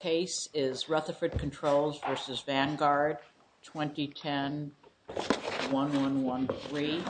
Case is Rutherford Controls v. Vanguard, 2010, 1113. Rutherford Controls v. Vanguard, 2010, 1113.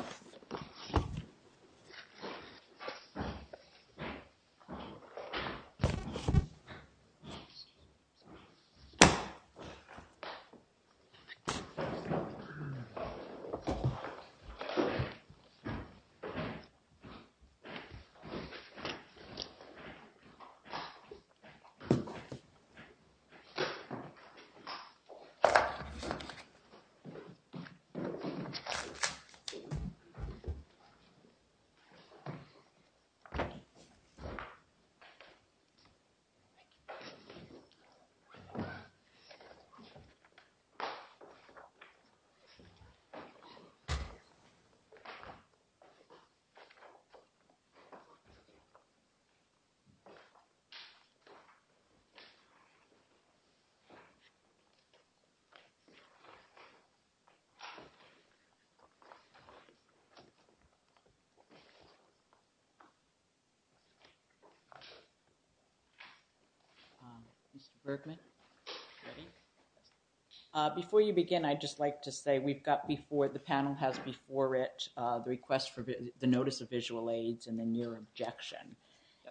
Before you begin, I'd just like to say we've got before, the panel has before it the request for the notice of visual aids and then your objection,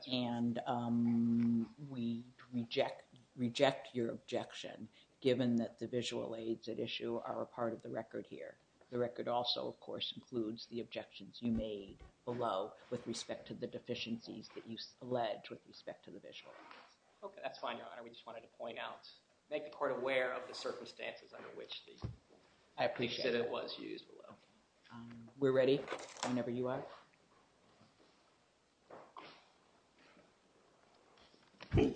and we reject your objection given that the visual aids at issue are a part of the record here. The record also, of course, includes the objections you made below with respect to the deficiencies that you allege with respect to the visual aids. Okay, that's fine, Your Honor. We just wanted to point out, make the court aware of the circumstances under which the defendant was used below. I appreciate it. We're ready? Whenever you are. May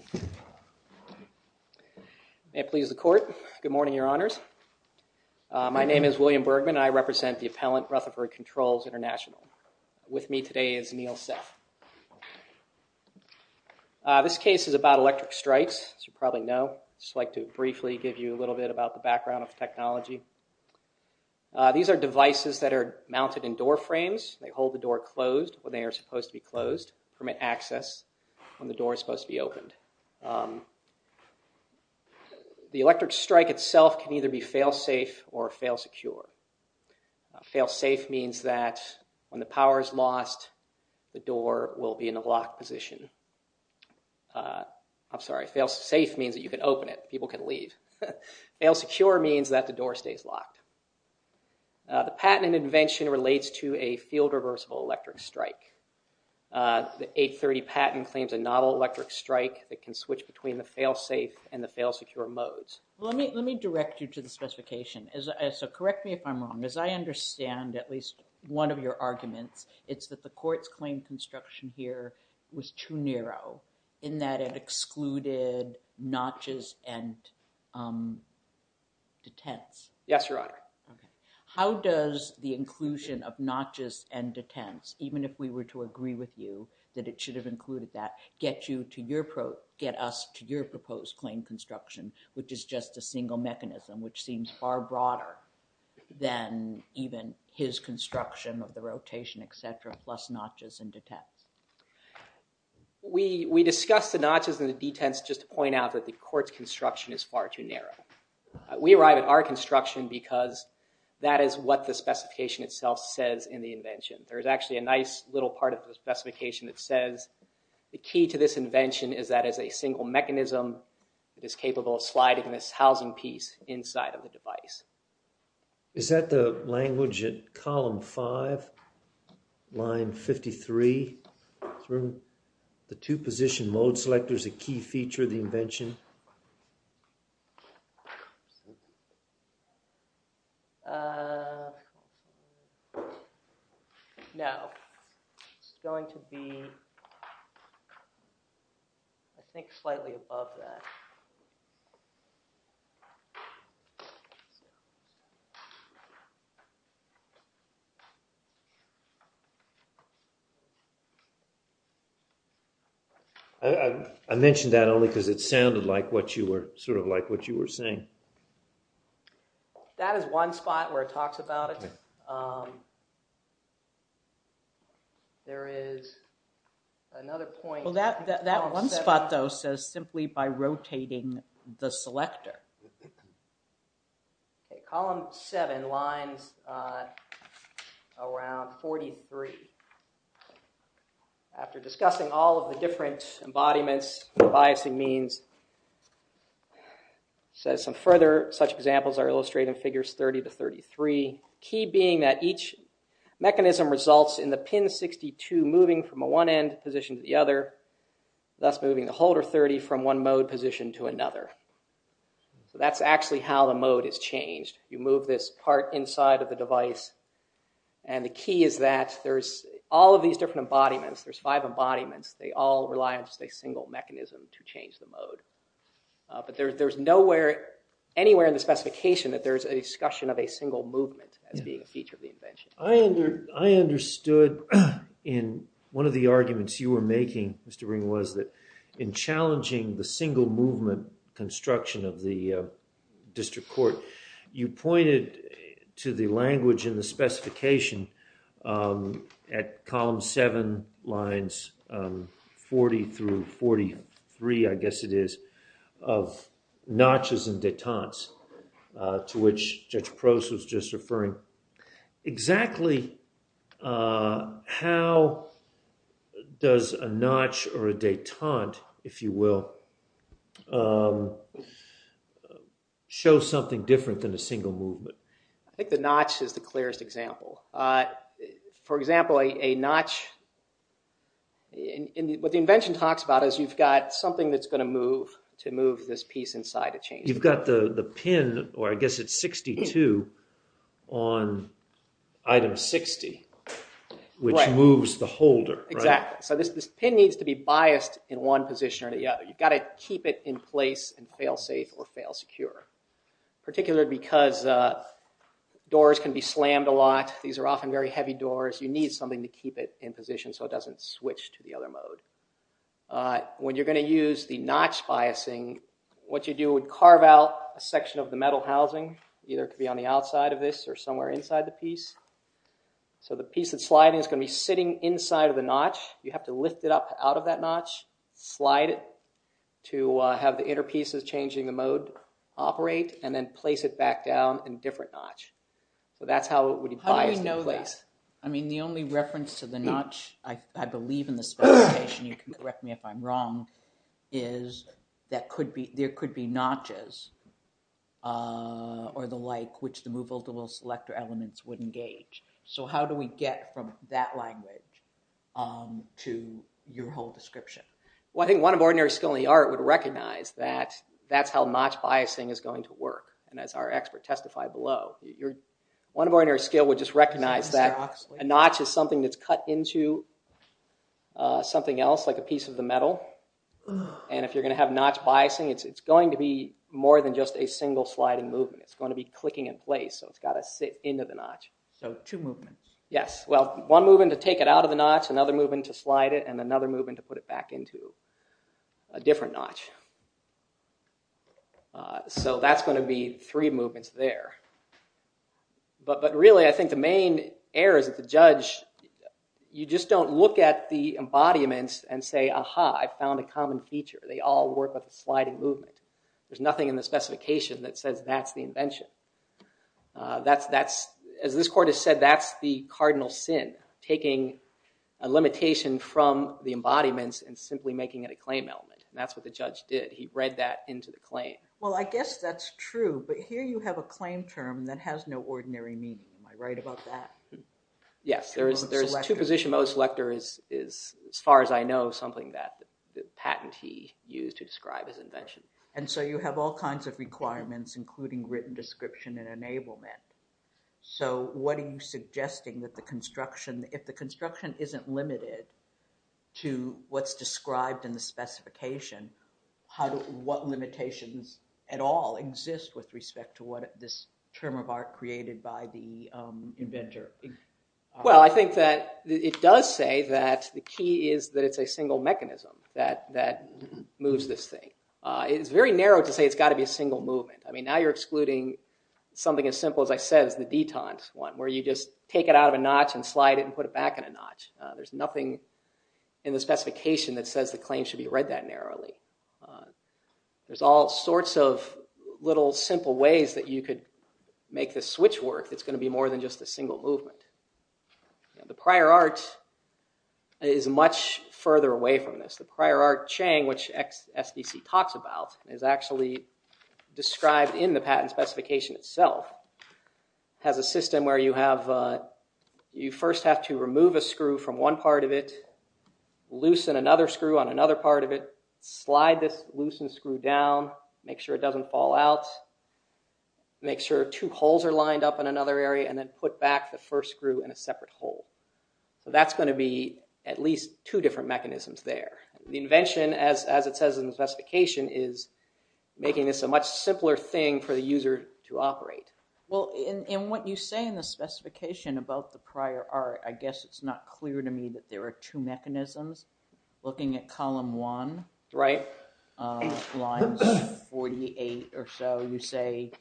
it please the court, good morning, Your Honors. My name is William Bergman. I represent the appellant, Rutherford Controls International. With me today is Neil Seth. This case is about electric strikes, as you probably know. I'd just like to briefly give you a little bit about the background of the technology. These are devices that are mounted in door frames. They hold the door closed when they are supposed to be closed, permit access when the door is supposed to be opened. The electric strike itself can either be fail-safe or fail-secure. Fail-safe means that when the power is lost, the door will be in a locked position. I'm sorry, fail-safe means that you can open it, people can leave. Fail-secure means that the door stays locked. The patent and invention relates to a field-reversible electric strike. The 830 patent claims a novel electric strike that can switch between the fail-safe and the fail-secure modes. Well, let me direct you to the specification, so correct me if I'm wrong. As I understand at least one of your arguments, it's that the court's claim construction here was too narrow in that it excluded notches and detents. Yes, Your Honor. How does the inclusion of notches and detents, even if we were to agree with you that it should have included that, get us to your proposed claim construction, which is just a single mechanism, which seems far broader than even his construction of the rotation, etc., plus notches and detents? We discussed the notches and the detents just to point out that the court's construction is far too narrow. We arrived at our construction because that is what the specification itself says in the invention. There's actually a nice little part of the specification that says the key to this invention is that as a single mechanism, it is capable of sliding this housing piece inside of the device. Is that the language at column 5, line 53, the two position mode selectors a key feature of the invention? No. It's going to be, I think, slightly above that. I mentioned that only because it sounded sort of like what you were saying. That is one spot where it talks about it. There is another point. That one spot, though, says simply by rotating the selector. Column 7 lines around 43. After discussing all of the different embodiments, the biasing means, says some further such examples are illustrated in figures 30 to 33, key being that each mechanism results in the pin 62 moving from a one-end position to the other, thus moving the holder 30 from one mode position to another. That's actually how the mode is changed. You move this part inside of the device, and the key is that there's all of these different embodiments. There's five embodiments. They all rely on just a single mechanism to change the mode. There's nowhere anywhere in the specification that there's a discussion of a single movement as being a feature of the invention. I understood in one of the arguments you were making, Mr. Ring, was that in challenging the single movement construction of the district court, you pointed to the language in the specification at column 7 lines 40 through 43, I guess it is, of notches and detente to which Judge Prose was just referring. Exactly how does a notch or a detente, if you will, show something different than a single movement? I think the notch is the clearest example. For example, a notch, what the invention talks about is you've got something that's going to move to move this piece inside a chain. You've got the pin, or I guess it's 62, on item 60, which moves the holder. Exactly. This pin needs to be biased in one position or the other. You've got to keep it in place and fail safe or fail secure, particularly because doors can be slammed a lot. These are often very heavy doors. You need something to keep it in position so it doesn't switch to the other mode. When you're going to use the notch biasing, what you do is carve out a section of the metal housing, either it could be on the outside of this or somewhere inside the piece. The piece that's sliding is going to be sitting inside of the notch. You have to lift it up out of that notch, slide it to have the inner pieces changing the mode, operate, and then place it back down in a different notch. That's how it would be biased in place. How do we know that? I mean, the only reference to the notch, I believe in the specification, you can correct me if I'm wrong, is there could be notches or the like, which the movable double selector elements would engage. So how do we get from that language to your whole description? Well, I think one of ordinary skill in the art would recognize that that's how notch biasing is going to work, and as our expert testified below. One of ordinary skill would just recognize that a notch is something that's cut into something else like a piece of the metal, and if you're going to have notch biasing, it's going to be more than just a single sliding movement. It's going to be clicking in place, so it's got to sit into the notch. So two movements. Yes. Well, one movement to take it out of the notch, another movement to slide it, and another movement to put it back into a different notch. So that's going to be three movements there. But really, I think the main error is that the judge, you just don't look at the embodiments and say, aha, I found a common feature. They all work with a sliding movement. There's nothing in the specification that says that's the invention. As this court has said, that's the cardinal sin, taking a limitation from the embodiments and simply making it a claim element. And that's what the judge did. He read that into the claim. Well, I guess that's true, but here you have a claim term that has no ordinary meaning. Am I right about that? Yes. There's two position modes. Selector is, as far as I know, something that the patentee used to describe his invention. And so you have all kinds of requirements, including written description and enablement. So what are you suggesting that the construction, if the construction isn't limited to what's in the specification, what limitations at all exist with respect to what this term of art created by the inventor? Well, I think that it does say that the key is that it's a single mechanism that moves this thing. It's very narrow to say it's got to be a single movement. I mean, now you're excluding something as simple as I said is the detente one, where you just take it out of a notch and slide it and put it back in a notch. There's nothing in the specification that says the claim should be read that narrowly. There's all sorts of little simple ways that you could make this switch work that's going to be more than just a single movement. The prior art is much further away from this. The prior art Chang, which SBC talks about, is actually described in the patent specification itself, has a system where you first have to remove a screw from one part of it, loosen another screw on another part of it, slide this loosen screw down, make sure it doesn't fall out, make sure two holes are lined up in another area, and then put back the first screw in a separate hole. That's going to be at least two different mechanisms there. The invention, as it says in the specification, is making this a much simpler thing for the device to operate. Well, in what you say in the specification about the prior art, I guess it's not clear to me that there are two mechanisms. Looking at column one, lines 48 or so, you say,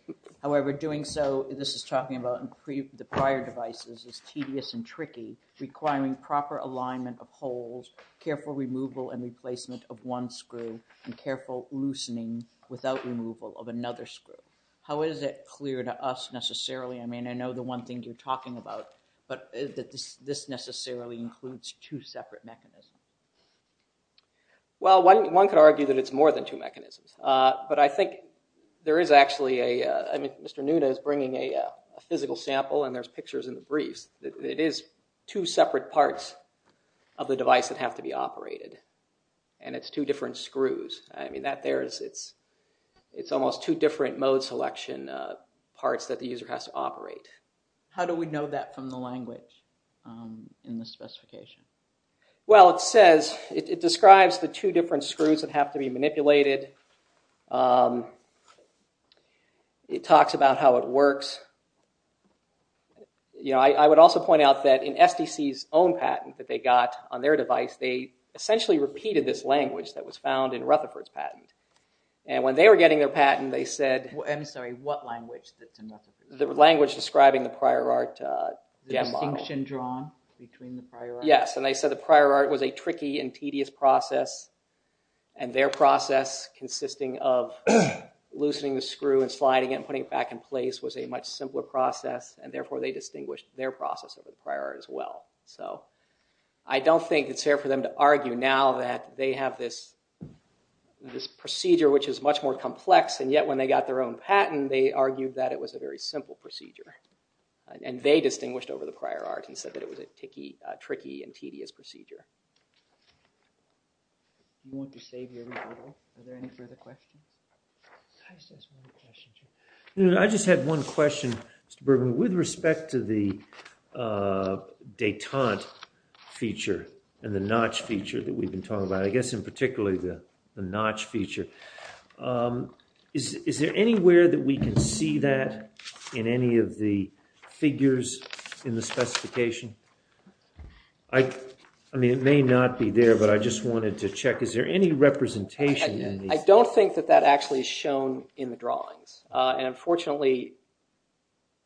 however, doing so, this is talking about the prior devices, is tedious and tricky, requiring proper alignment of holes, careful removal and replacement of one screw, and careful loosening without removal of another screw. How is it clear to us, necessarily, I mean, I know the one thing you're talking about, but that this necessarily includes two separate mechanisms? Well, one could argue that it's more than two mechanisms. But I think there is actually a, I mean, Mr. Nuda is bringing a physical sample, and there's pictures in the briefs, that it is two separate parts of the device that have to be operated. And it's two different screws. I mean, that there is, it's almost two different mode selection parts that the user has to operate. How do we know that from the language in the specification? Well, it says, it describes the two different screws that have to be manipulated. It talks about how it works. You know, I would also point out that in SDC's own patent that they got on their device, they essentially repeated this language that was found in Rutherford's patent. And when they were getting their patent, they said... I'm sorry, what language? The language describing the prior art. The distinction drawn between the prior art? Yes, and they said the prior art was a tricky and tedious process. And their process consisting of loosening the screw and sliding it and putting it back in place was a much simpler process. And therefore, they distinguished their process of the prior art as well. So, I don't think it's fair for them to argue now that they have this procedure which is much more complex. And yet, when they got their own patent, they argued that it was a very simple procedure. And they distinguished over the prior art and said that it was a tricky and tedious procedure. You want to save your rebuttal? Are there any further questions? I just had one question, Mr. Bergman. With respect to the detente feature and the notch feature that we've been talking about, I guess in particularly the notch feature, is there anywhere that we can see that in any of the figures in the specification? I mean, it may not be there, but I just wanted to check. Is there any representation in these? I don't think that that actually is shown in the drawings. And unfortunately,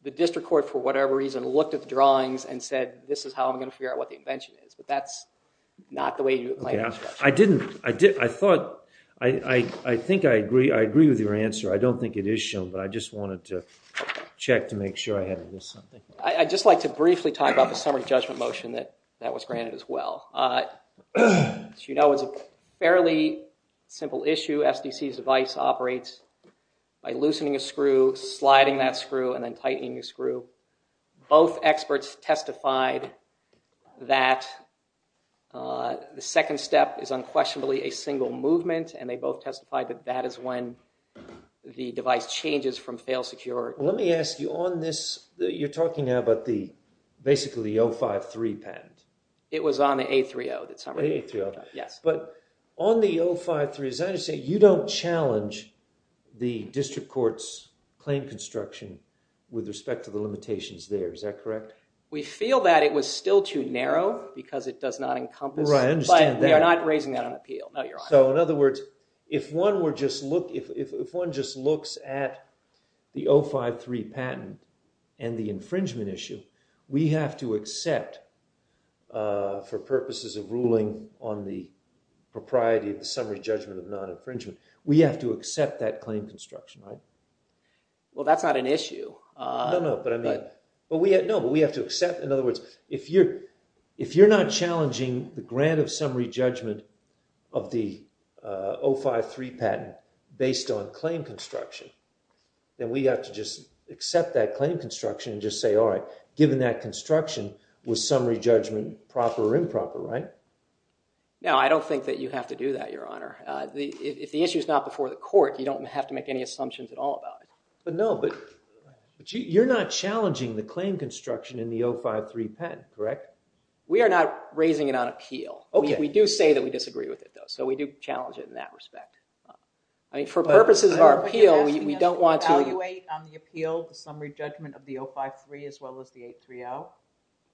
the district court, for whatever reason, looked at the drawings and said this is how I'm going to figure out what the invention is. But that's not the way you might expect. I didn't. I thought, I think I agree with your answer. I don't think it is shown, but I just wanted to check to make sure I hadn't missed something. I'd just like to briefly talk about the summary judgment motion that was granted as well. As you know, it's a fairly simple issue. Two SDCs' device operates by loosening a screw, sliding that screw, and then tightening a screw. Both experts testified that the second step is unquestionably a single movement, and they both testified that that is when the device changes from fail secure. Let me ask you, on this, you're talking about the, basically the 053 patent. It was on the A30. The A30. Yes. But on the 053, as I understand, you don't challenge the district court's claim construction with respect to the limitations there, is that correct? We feel that it was still too narrow, because it does not encompass, but we are not raising that on appeal. No, you're on. So, in other words, if one were just, if one just looks at the 053 patent and the infringement issue, we have to accept, for purposes of ruling on the propriety of the summary judgment of non-infringement, we have to accept that claim construction, right? Well, that's not an issue. No, no. But I mean, but we have, no, but we have to accept, in other words, if you're not challenging the grant of summary judgment of the 053 patent based on claim construction, then we have to just accept that claim construction and just say, all right, given that construction, was summary judgment proper or improper, right? No, I don't think that you have to do that, Your Honor. If the issue is not before the court, you don't have to make any assumptions at all about it. But no, but you're not challenging the claim construction in the 053 patent, correct? We are not raising it on appeal. We do say that we disagree with it, though, so we do challenge it in that respect. I mean, for purposes of our appeal, we don't want to— Are you asking us to evaluate on the appeal the summary judgment of the 053 as well as the 830?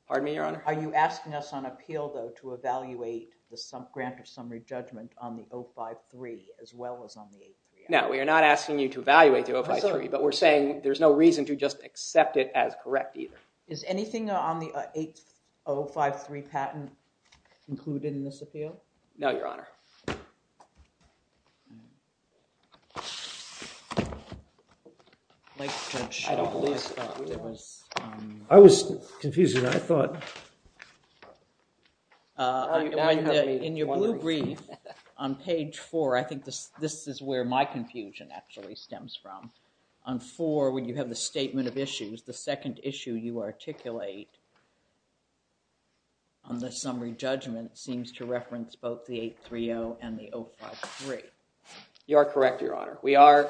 Pardon me, Your Honor? Are you asking us on appeal, though, to evaluate the grant of summary judgment on the 053 as well as on the 830? No, we are not asking you to evaluate the 053, but we're saying there's no reason to just accept it as correct either. Is anything on the 8053 patent included in this appeal? No, Your Honor. I was confused, Your Honor. I thought... In your blue brief on page four, I think this is where my confusion actually stems from. On four, when you have the statement of issues, the second issue you articulate on the summary judgment seems to reference both the 830 and the 053. You are correct, Your Honor. We are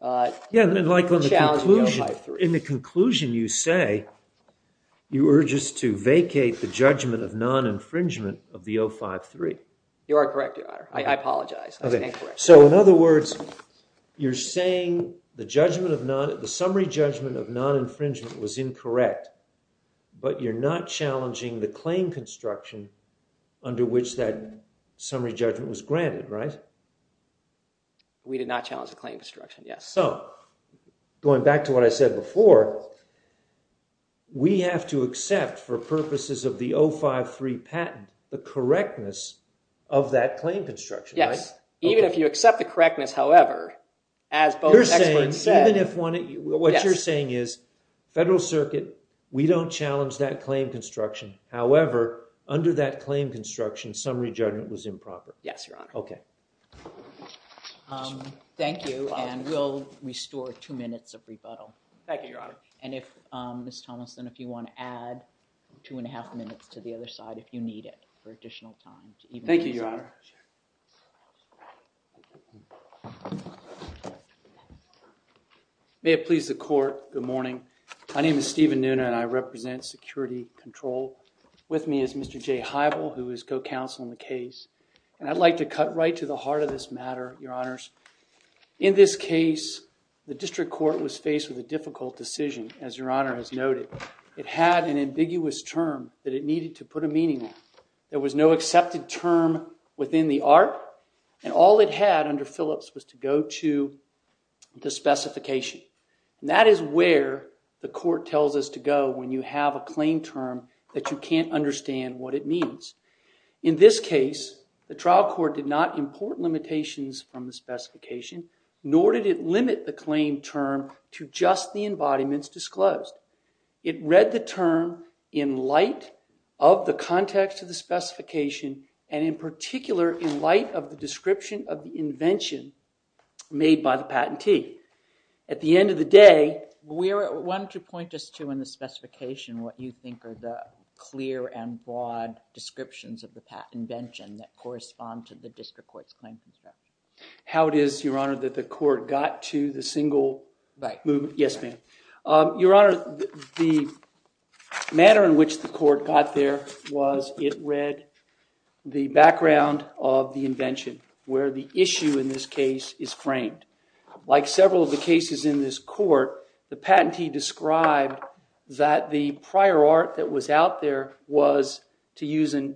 challenging the 053. In the conclusion, you say you were just to vacate the judgment of non-infringement of the 053. You are correct, Your Honor. I apologize. I was incorrect. In other words, you're saying the summary judgment of non-infringement was incorrect, but you're not challenging the claim construction under which that summary judgment was granted, right? We did not challenge the claim construction, yes. Going back to what I said before, we have to accept, for purposes of the 053 patent, the correctness of that claim construction, right? Yes. Even if you accept the correctness, however, as both experts said... You're saying, even if one... Yes. What you're saying is, Federal Circuit, we don't challenge that claim construction. However, under that claim construction, summary judgment was improper. Yes, Your Honor. Okay. Thank you, and we'll restore two minutes of rebuttal. Thank you, Your Honor. And if, Ms. Thomason, if you want to add two and a half minutes to the other side, if you need it for additional time. Thank you, Your Honor. Thank you, Your Honor. May it please the Court, good morning. My name is Stephen Nunez, and I represent Security Control. With me is Mr. Jay Heibel, who is co-counsel in the case, and I'd like to cut right to the heart of this matter, Your Honors. In this case, the District Court was faced with a difficult decision, as Your Honor has noted. It had an ambiguous term that it needed to put a meaning on. There was no accepted term within the art, and all it had under Phillips was to go to the specification. And that is where the Court tells us to go when you have a claim term that you can't understand what it means. In this case, the trial court did not import limitations from the specification, nor did it limit the claim term to just the embodiments disclosed. It read the term in light of the context of the specification, and in particular, in light of the description of the invention made by the patentee. At the end of the day... We wanted to point just to, in the specification, what you think are the clear and broad descriptions of the invention that correspond to the District Court's claim term. How it is, Your Honor, that the Court got to the single movement... Yes, ma'am. Your Honor, the manner in which the Court got there was it read the background of the invention, where the issue in this case is framed. Like several of the cases in this Court, the patentee described that the prior art that was out there was, to use a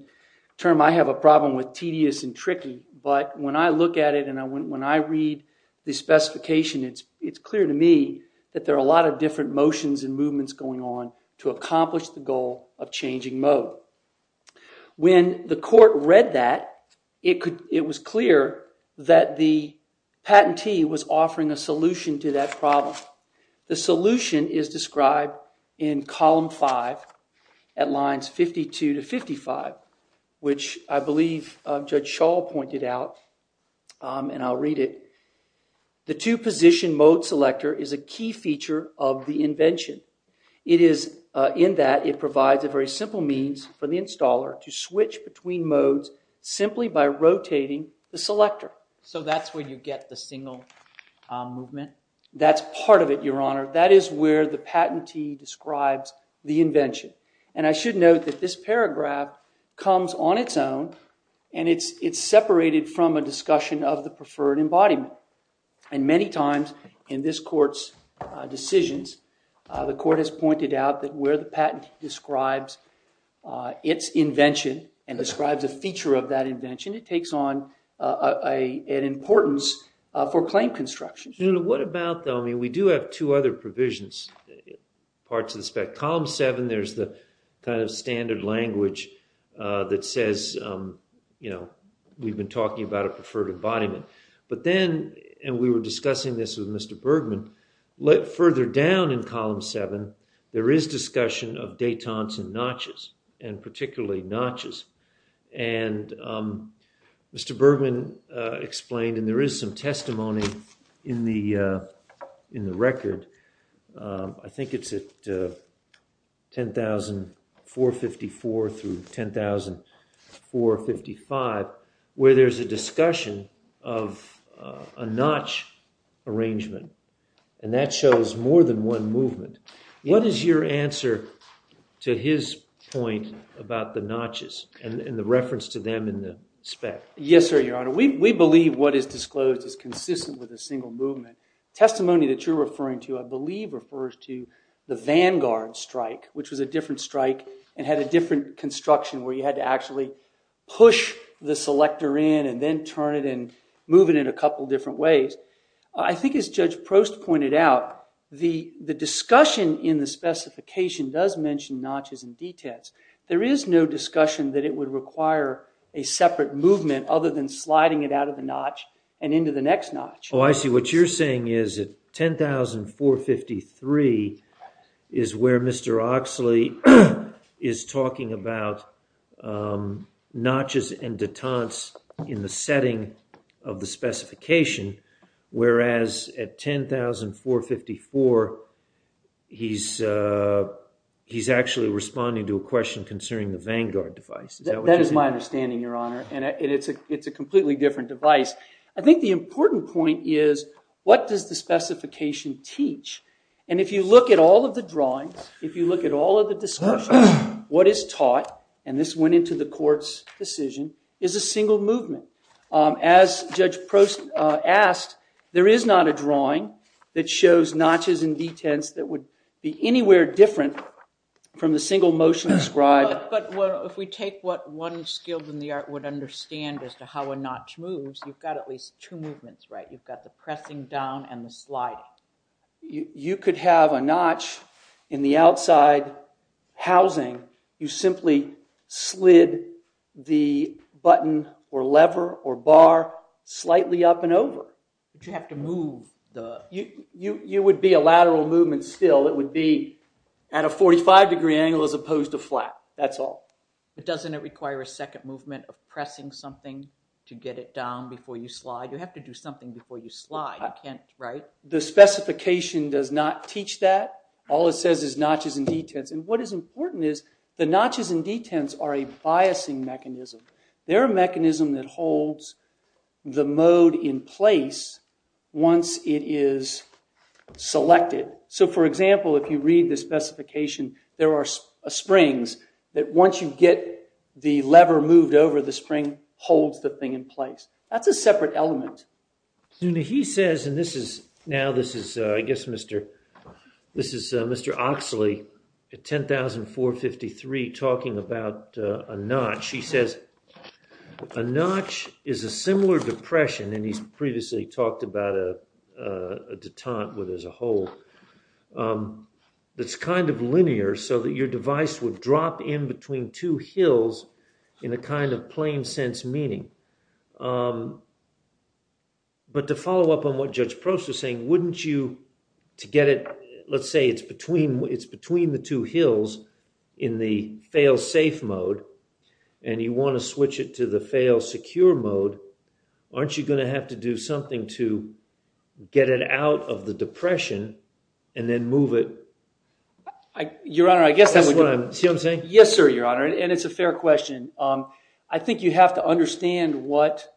term I have a problem with, tedious and tricky. But when I look at it and when I read the specification, it's clear to me that there are a lot of different motions and movements going on to accomplish the goal of changing mode. When the Court read that, it was clear that the patentee was offering a solution to that problem. The solution is described in Column 5, at lines 52 to 55, which I believe Judge Schall pointed out, and I'll read it. The two-position mode selector is a key feature of the invention. It is in that it provides a very simple means for the installer to switch between modes simply by rotating the selector. So that's where you get the single movement? That's part of it, Your Honor. That is where the patentee describes the invention. And I should note that this paragraph comes on its own, and it's separated from a discussion of the preferred embodiment. And many times in this Court's decisions, the Court has pointed out that where the patentee describes its invention and describes a feature of that invention, it takes on an importance for claim construction. What about, I mean, we do have two other provisions, parts of the spec. Column 7, there's the kind of standard language that says, you know, we've been talking about a preferred embodiment. But then, and we were discussing this with Mr. Bergman, further down in Column 7, there is discussion of détente and notches, and particularly notches. And Mr. Bergman explained, and there is some testimony in the record, I think it's at 10454 through 10455, where there's a discussion of a notch arrangement. And that shows more than one movement. What is your answer to his point about the notches and the reference to them in the spec? Yes, sir, Your Honor. We believe what is disclosed is consistent with a single movement. Testimony that you're referring to, I believe, refers to the Vanguard strike, which was a different strike and had a different construction where you had to actually push the selector in and then turn it and move it in a couple different ways. I think as Judge Prost pointed out, the discussion in the specification does mention notches and détentes. There is no discussion that it would require a separate movement other than sliding it out of the notch and into the next notch. Oh, I see. What you're saying is that 10453 is where Mr. Oxley is talking about notches and détentes in the setting of the specification, whereas at 10454, he's actually responding to a question concerning the Vanguard device. Is that what you mean? That is my understanding, Your Honor. And it's a completely different device. I think the important point is, what does the specification teach? And if you look at all of the drawings, if you look at all of the discussions, what is taught, and this went into the court's decision, is a single movement. As Judge Prost asked, there is not a drawing that shows notches and détentes that would be anywhere different from the single motion described. But if we take what one skilled in the art would understand as to how a notch moves, you've got at least two movements, right? You've got the pressing down and the sliding. You could have a notch in the outside housing. You simply slid the button or lever or bar slightly up and over. But you have to move the... You would be a lateral movement still. It would be at a 45-degree angle as opposed to flat. That's all. But doesn't it require a second movement of pressing something to get it down before you slide? You have to do something before you slide. You can't, right? The specification does not teach that. All it says is notches and détentes. And what is important is, the notches and détentes are a biasing mechanism. They're a mechanism that holds the mode in place once it is selected. So, for example, if you read the specification, there are springs that once you get the lever moved over, the spring holds the thing in place. That's a separate element. Now, this is, I guess, Mr. Oxley at 10453 talking about a notch. He says, a notch is a similar depression, and he's previously talked about a détente as a whole, that's kind of linear, so that your device would drop in between two hills in a kind of plain-sense meaning. But to follow up on what Judge Prost was saying, wouldn't you, to get it, let's say it's between the two hills in the fail-safe mode, and you want to switch it to the fail-secure mode, aren't you going to have to do something to get it out of the depression and then move it? Your Honor, I guess that would be... See what I'm saying? Yes, sir, Your Honor, and it's a fair question. I think you have to understand what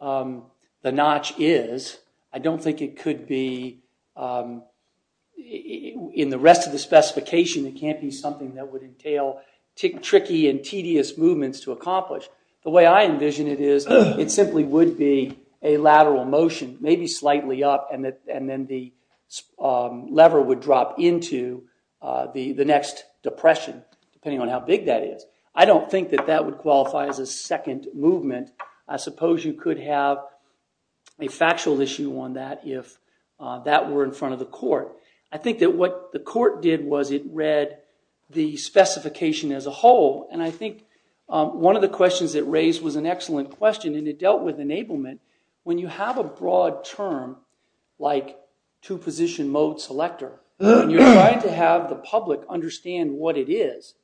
the notch is. I don't think it could be, in the rest of the specification, it can't be something that would entail tricky and tedious movements to accomplish. The way I envision it is, it simply would be a lateral motion, maybe slightly up, and then the lever would drop into the next depression, depending on how big that is. I don't think that that would qualify as a second movement. I suppose you could have a factual issue on that if that were in front of the court. I think that what the court did was it read the specification as a whole, and I think one of the questions it raised was an excellent question, and it dealt with enablement. When you have a broad term like two-position mode selector, and you're trying to have the public understand what it is,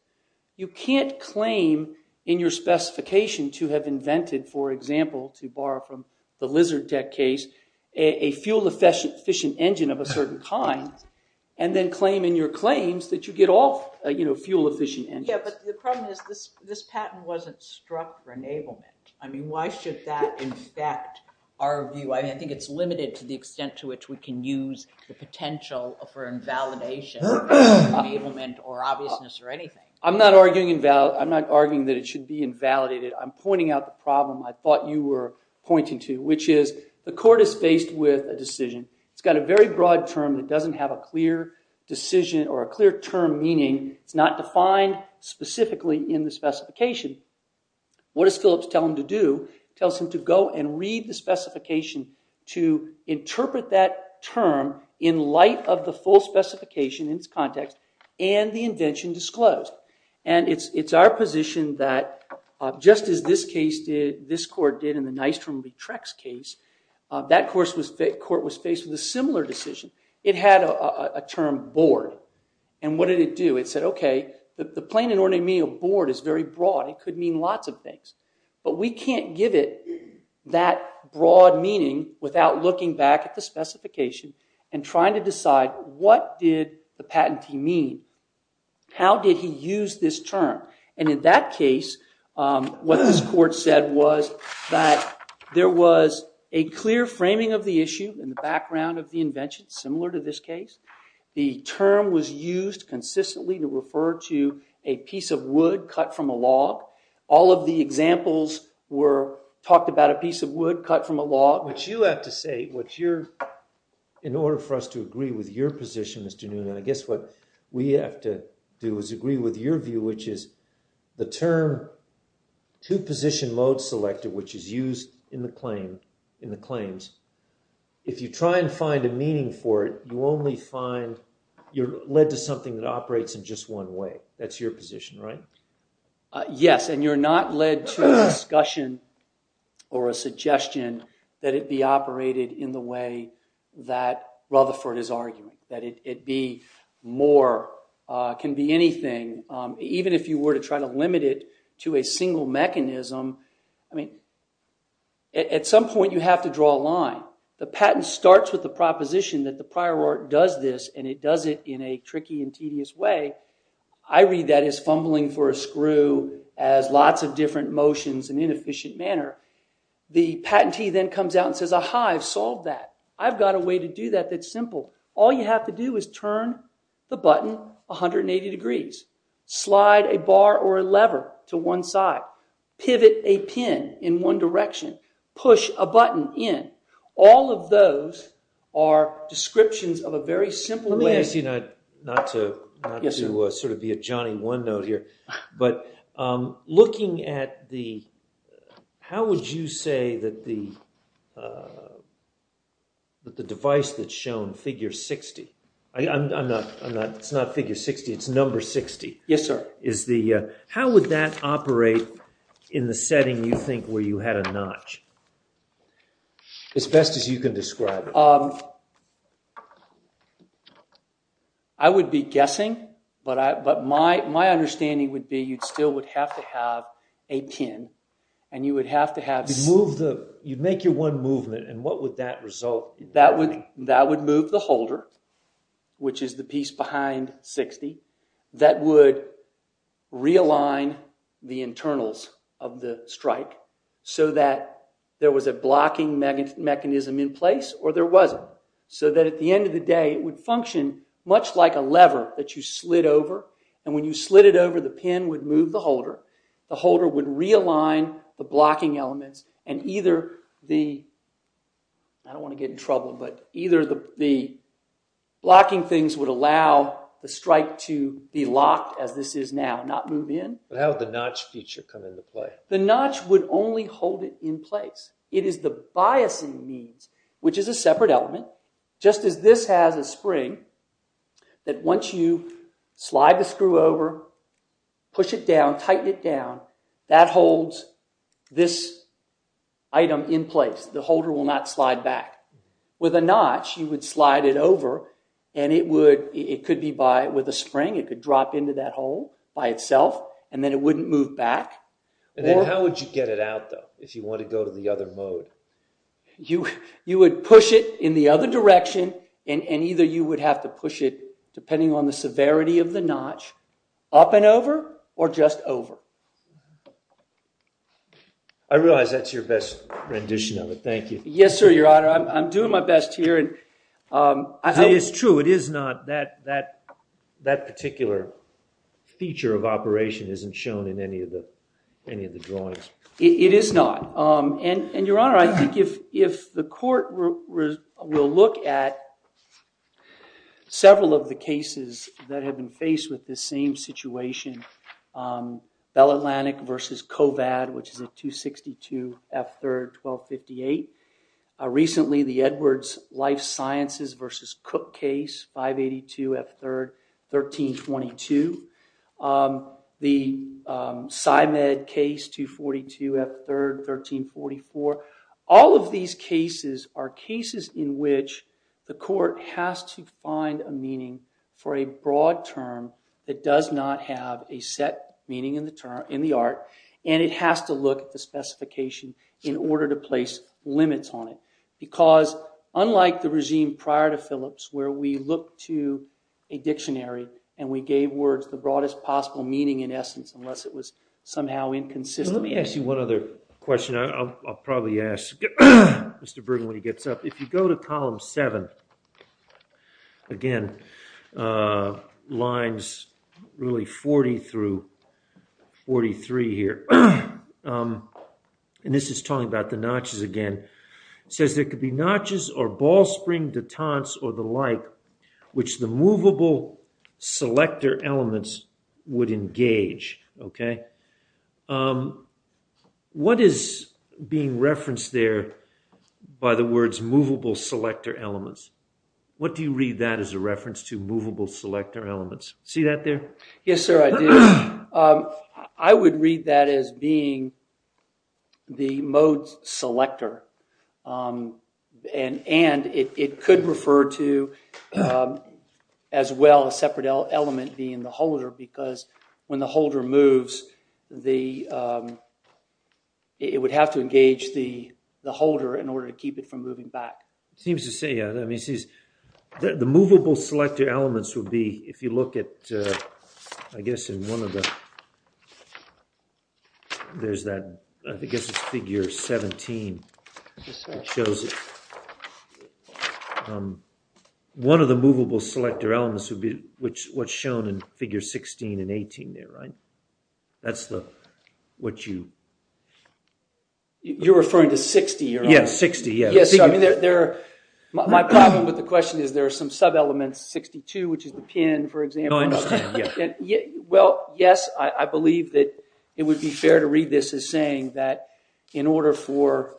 you can't claim in your specification to have invented, for example, to borrow from the Lizard Deck case, a fuel-efficient engine of a certain kind, and then claim in your claims that you get all fuel-efficient engines. Yeah, but the problem is this patent wasn't struck for enablement. I mean, why should that infect our view? I think it's limited to the extent to which we can use the potential for invalidation, or enablement, or obviousness, or anything. I'm not arguing that it should be invalidated. I'm pointing out the problem I thought you were pointing to, which is the court is faced with a decision. It's got a very broad term that doesn't have a clear decision or a clear term meaning. It's not defined specifically in the specification. What does Phillips tell him to do? It tells him to go and read the specification to interpret that term in light of the full specification in its context and the invention disclosed. And it's our position that just as this case did, this court did in the Nystrom-Lietrex case, that court was faced with a similar decision. It had a term, bored. And what did it do? It said, OK, the plain and ordinary meaning of bored is very broad. It could mean lots of things. But we can't give it that broad meaning without looking back at the specification and trying to decide what did the patentee mean? How did he use this term? And in that case, what this court said was that there was a clear framing of the issue in the background of the invention, similar to this case. The term was used consistently to refer to a piece of wood cut from a log. All of the examples talked about a piece of wood cut from a log. What you have to say, in order for us to agree with your position, Mr. Noonan, I guess what we have to do is agree with your view, which is the term two-position mode selector, which is used in the claims, if you try and find a meaning for it, you're led to something that operates in just one way. That's your position, right? Yes, and you're not led to a discussion or a suggestion that it be operated in the way that Rutherford is arguing, that it can be anything, even if you were to try to limit it to a single mechanism. At some point, you have to draw a line. The patent starts with the proposition that the prior art does this, and it does it in a tricky and tedious way. I read that as fumbling for a screw, as lots of different motions in an inefficient manner. The patentee then comes out and says, aha, I've solved that. I've got a way to do that that's simple. All you have to do is turn the button 180 degrees, slide a bar or a lever to one side, pivot a pin in one direction, push a button in. All of those are descriptions of a very simple way. Let me ask you, not to sort of be a Johnny OneNote here, but looking at the, how would you say that the device that's shown, figure 60, it's not figure 60, it's number 60. Yes, sir. How would that operate in the setting you think where you had a notch? As best as you can describe it. I would be guessing, but my understanding would be you still would have to have a pin. You'd make your one movement, and what would that result in? That would move the holder, which is the piece behind 60. That would realign the internals of the strike so that there was a blocking mechanism in place, or there wasn't. So that at the end of the day, it would function much like a lever that you slid over, and when you slid it over, the pin would move the holder. The holder would realign the blocking elements, and either the, I don't want to get in trouble, but either the blocking things would allow the strike to be locked as this is now, not move in. But how would the notch feature come into play? The notch would only hold it in place. It is the biasing needs, which is a separate element, just as this has a spring that once you slide the screw over, push it down, tighten it down, that holds this item in place. The holder will not slide back. With a notch, you would slide it over, and it could be with a spring. It could drop into that hole by itself, and then it wouldn't move back. How would you get it out, though, if you want to go to the other mode? You would push it in the other direction, and either you would have to push it, depending on the severity of the notch, up and over or just over. I realize that's your best rendition of it. Thank you. Yes, sir, Your Honor. I'm doing my best here. It is true. It is not. That particular feature of operation isn't shown in any of the drawings. It is not. And, Your Honor, I think if the court will look at several of the cases that have been faced with this same situation, Bell Atlantic v. Kovad, which is a 262 F. 3rd, 1258. Recently, the Edwards Life Sciences v. Cook case, 582 F. 3rd, 1322. The Symed case, 242 F. 3rd, 1344. All of these cases are cases in which the court has to find a meaning for a broad term that does not have a set meaning in the art, and it has to look at the specification in order to place limits on it. Because, unlike the regime prior to Phillips, where we looked to a dictionary and we gave words the broadest possible meaning, in essence, unless it was somehow inconsistent. Let me ask you one other question. I'll probably ask Mr. Bergen when he gets up. If you go to column 7, again, lines really 40 through 43 here. And this is talking about the notches again. It says, It could be notches or ball spring detents or the like, which the movable selector elements would engage. Okay? What is being referenced there by the words movable selector elements? What do you read that as a reference to movable selector elements? See that there? Yes, sir, I do. I would read that as being the mode selector. And it could refer to, as well, a separate element being the holder because when the holder moves, it would have to engage the holder in order to keep it from moving back. It seems to say that. The movable selector elements would be, if you look at, I guess, I guess it's figure 17 that shows it. One of the movable selector elements would be what's shown in figure 16 and 18 there, right? That's what you? You're referring to 60, you're right. Yes, 60, yes. My problem with the question is there are some sub-elements, 62, which is the pin, for example. No, I understand, yeah. Well, yes, I believe that it would be fair to read this as saying that in order for,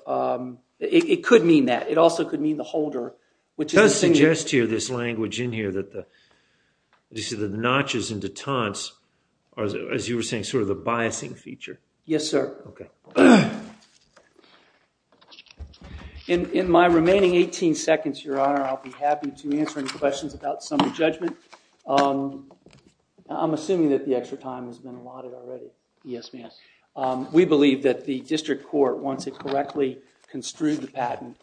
it could mean that. It also could mean the holder. It does suggest here, this language in here, that the notches and detents are, as you were saying, sort of the biasing feature. Yes, sir. Okay. In my remaining 18 seconds, Your Honor, I'll be happy to answer any questions about summary judgment. I'm assuming that the extra time has been allotted already. Yes, ma'am. We believe that the district court, once it correctly construed the patent,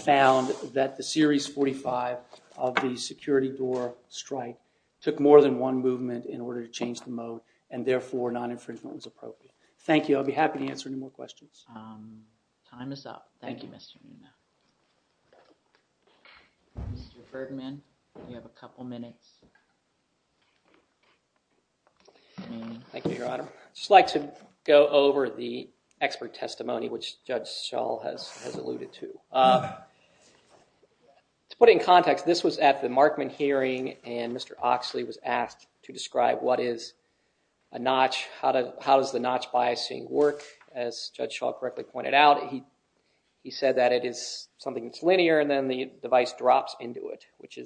found that the series 45 of the security door strike took more than one movement in order to change the mode, and therefore non-infringement was appropriate. Thank you. I'll be happy to answer any more questions. Time is up. Thank you, Mr. Munoz. Mr. Ferdinand, you have a couple minutes. Thank you, Your Honor. I'd just like to go over the expert testimony, which Judge Schall has alluded to. To put it in context, this was at the Markman hearing, and Mr. Oxley was asked to describe what is a notch, how does the notch biasing work. As Judge Schall correctly pointed out, he said that it is something that's linear, and then the device drops into it, which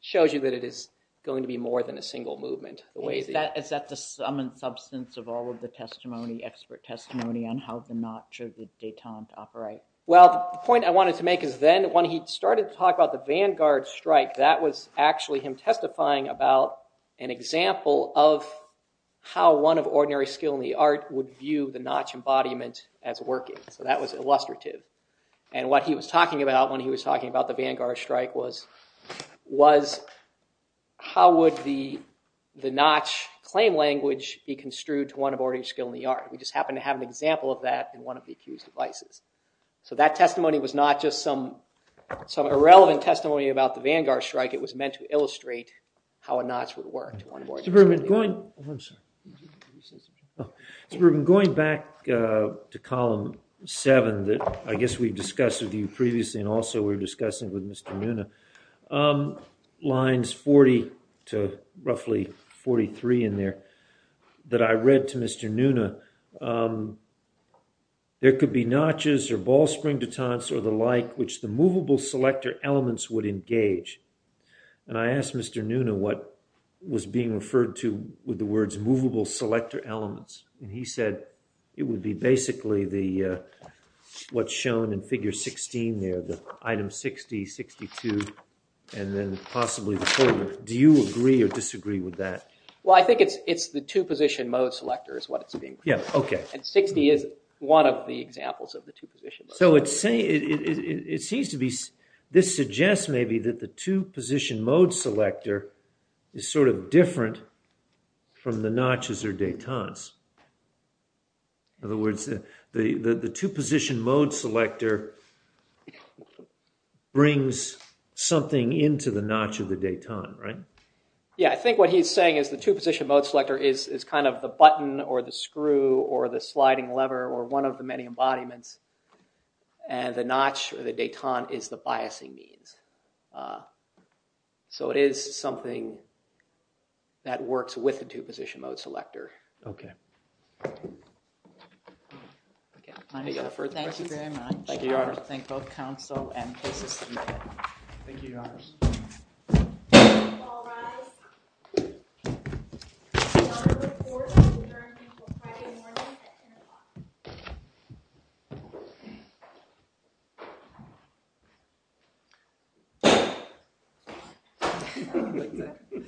shows you that it is going to be more than a single movement. Is that the sum and substance of all of the testimony, expert testimony on how the notch of the detente operates? Well, the point I wanted to make is then when he started to talk about the Vanguard strike, that was actually him testifying about an example of how one of ordinary skill in the art would view the notch embodiment as working. So that was illustrative. And what he was talking about when he was talking about the Vanguard strike was how would the notch claim language be construed to one of ordinary skill in the art. We just happened to have an example of that in one of the accused devices. So that testimony was not just some irrelevant testimony about the Vanguard strike. It was meant to illustrate how a notch would work. Mr. Brubin, going back to column seven that I guess we've discussed with you previously and also we were discussing with Mr. Nuna, lines 40 to roughly 43 in there that I read to Mr. Nuna, there could be notches or ball spring detentes or the like, which the movable selector elements would engage. And I asked Mr. Nuna what was being referred to with the words movable selector elements. And he said it would be basically what's shown in figure 16 there, the item 60, 62, and then possibly the folder. Do you agree or disagree with that? Well, I think it's the two position mode selector is what it's being. Yeah, okay. And 60 is one of the examples of the two position. So it seems to be this suggests maybe that the two position mode selector is sort of different from the notches or detentes. In other words, the two position mode selector brings something into the notch of the detente, right? Yeah, I think what he's saying is the two position mode selector is kind of the button or the screw or the sliding lever or one of the many embodiments and the notch or the detente is the biasing means. So it is something that works with the two position mode selector. Okay. Any other further questions? Thank you very much. Thank you, Your Honor. I would like to thank both counsel and cases submitted. Thank you, Your Honors. All rise. The court will adjourn until Friday morning at 10 o'clock.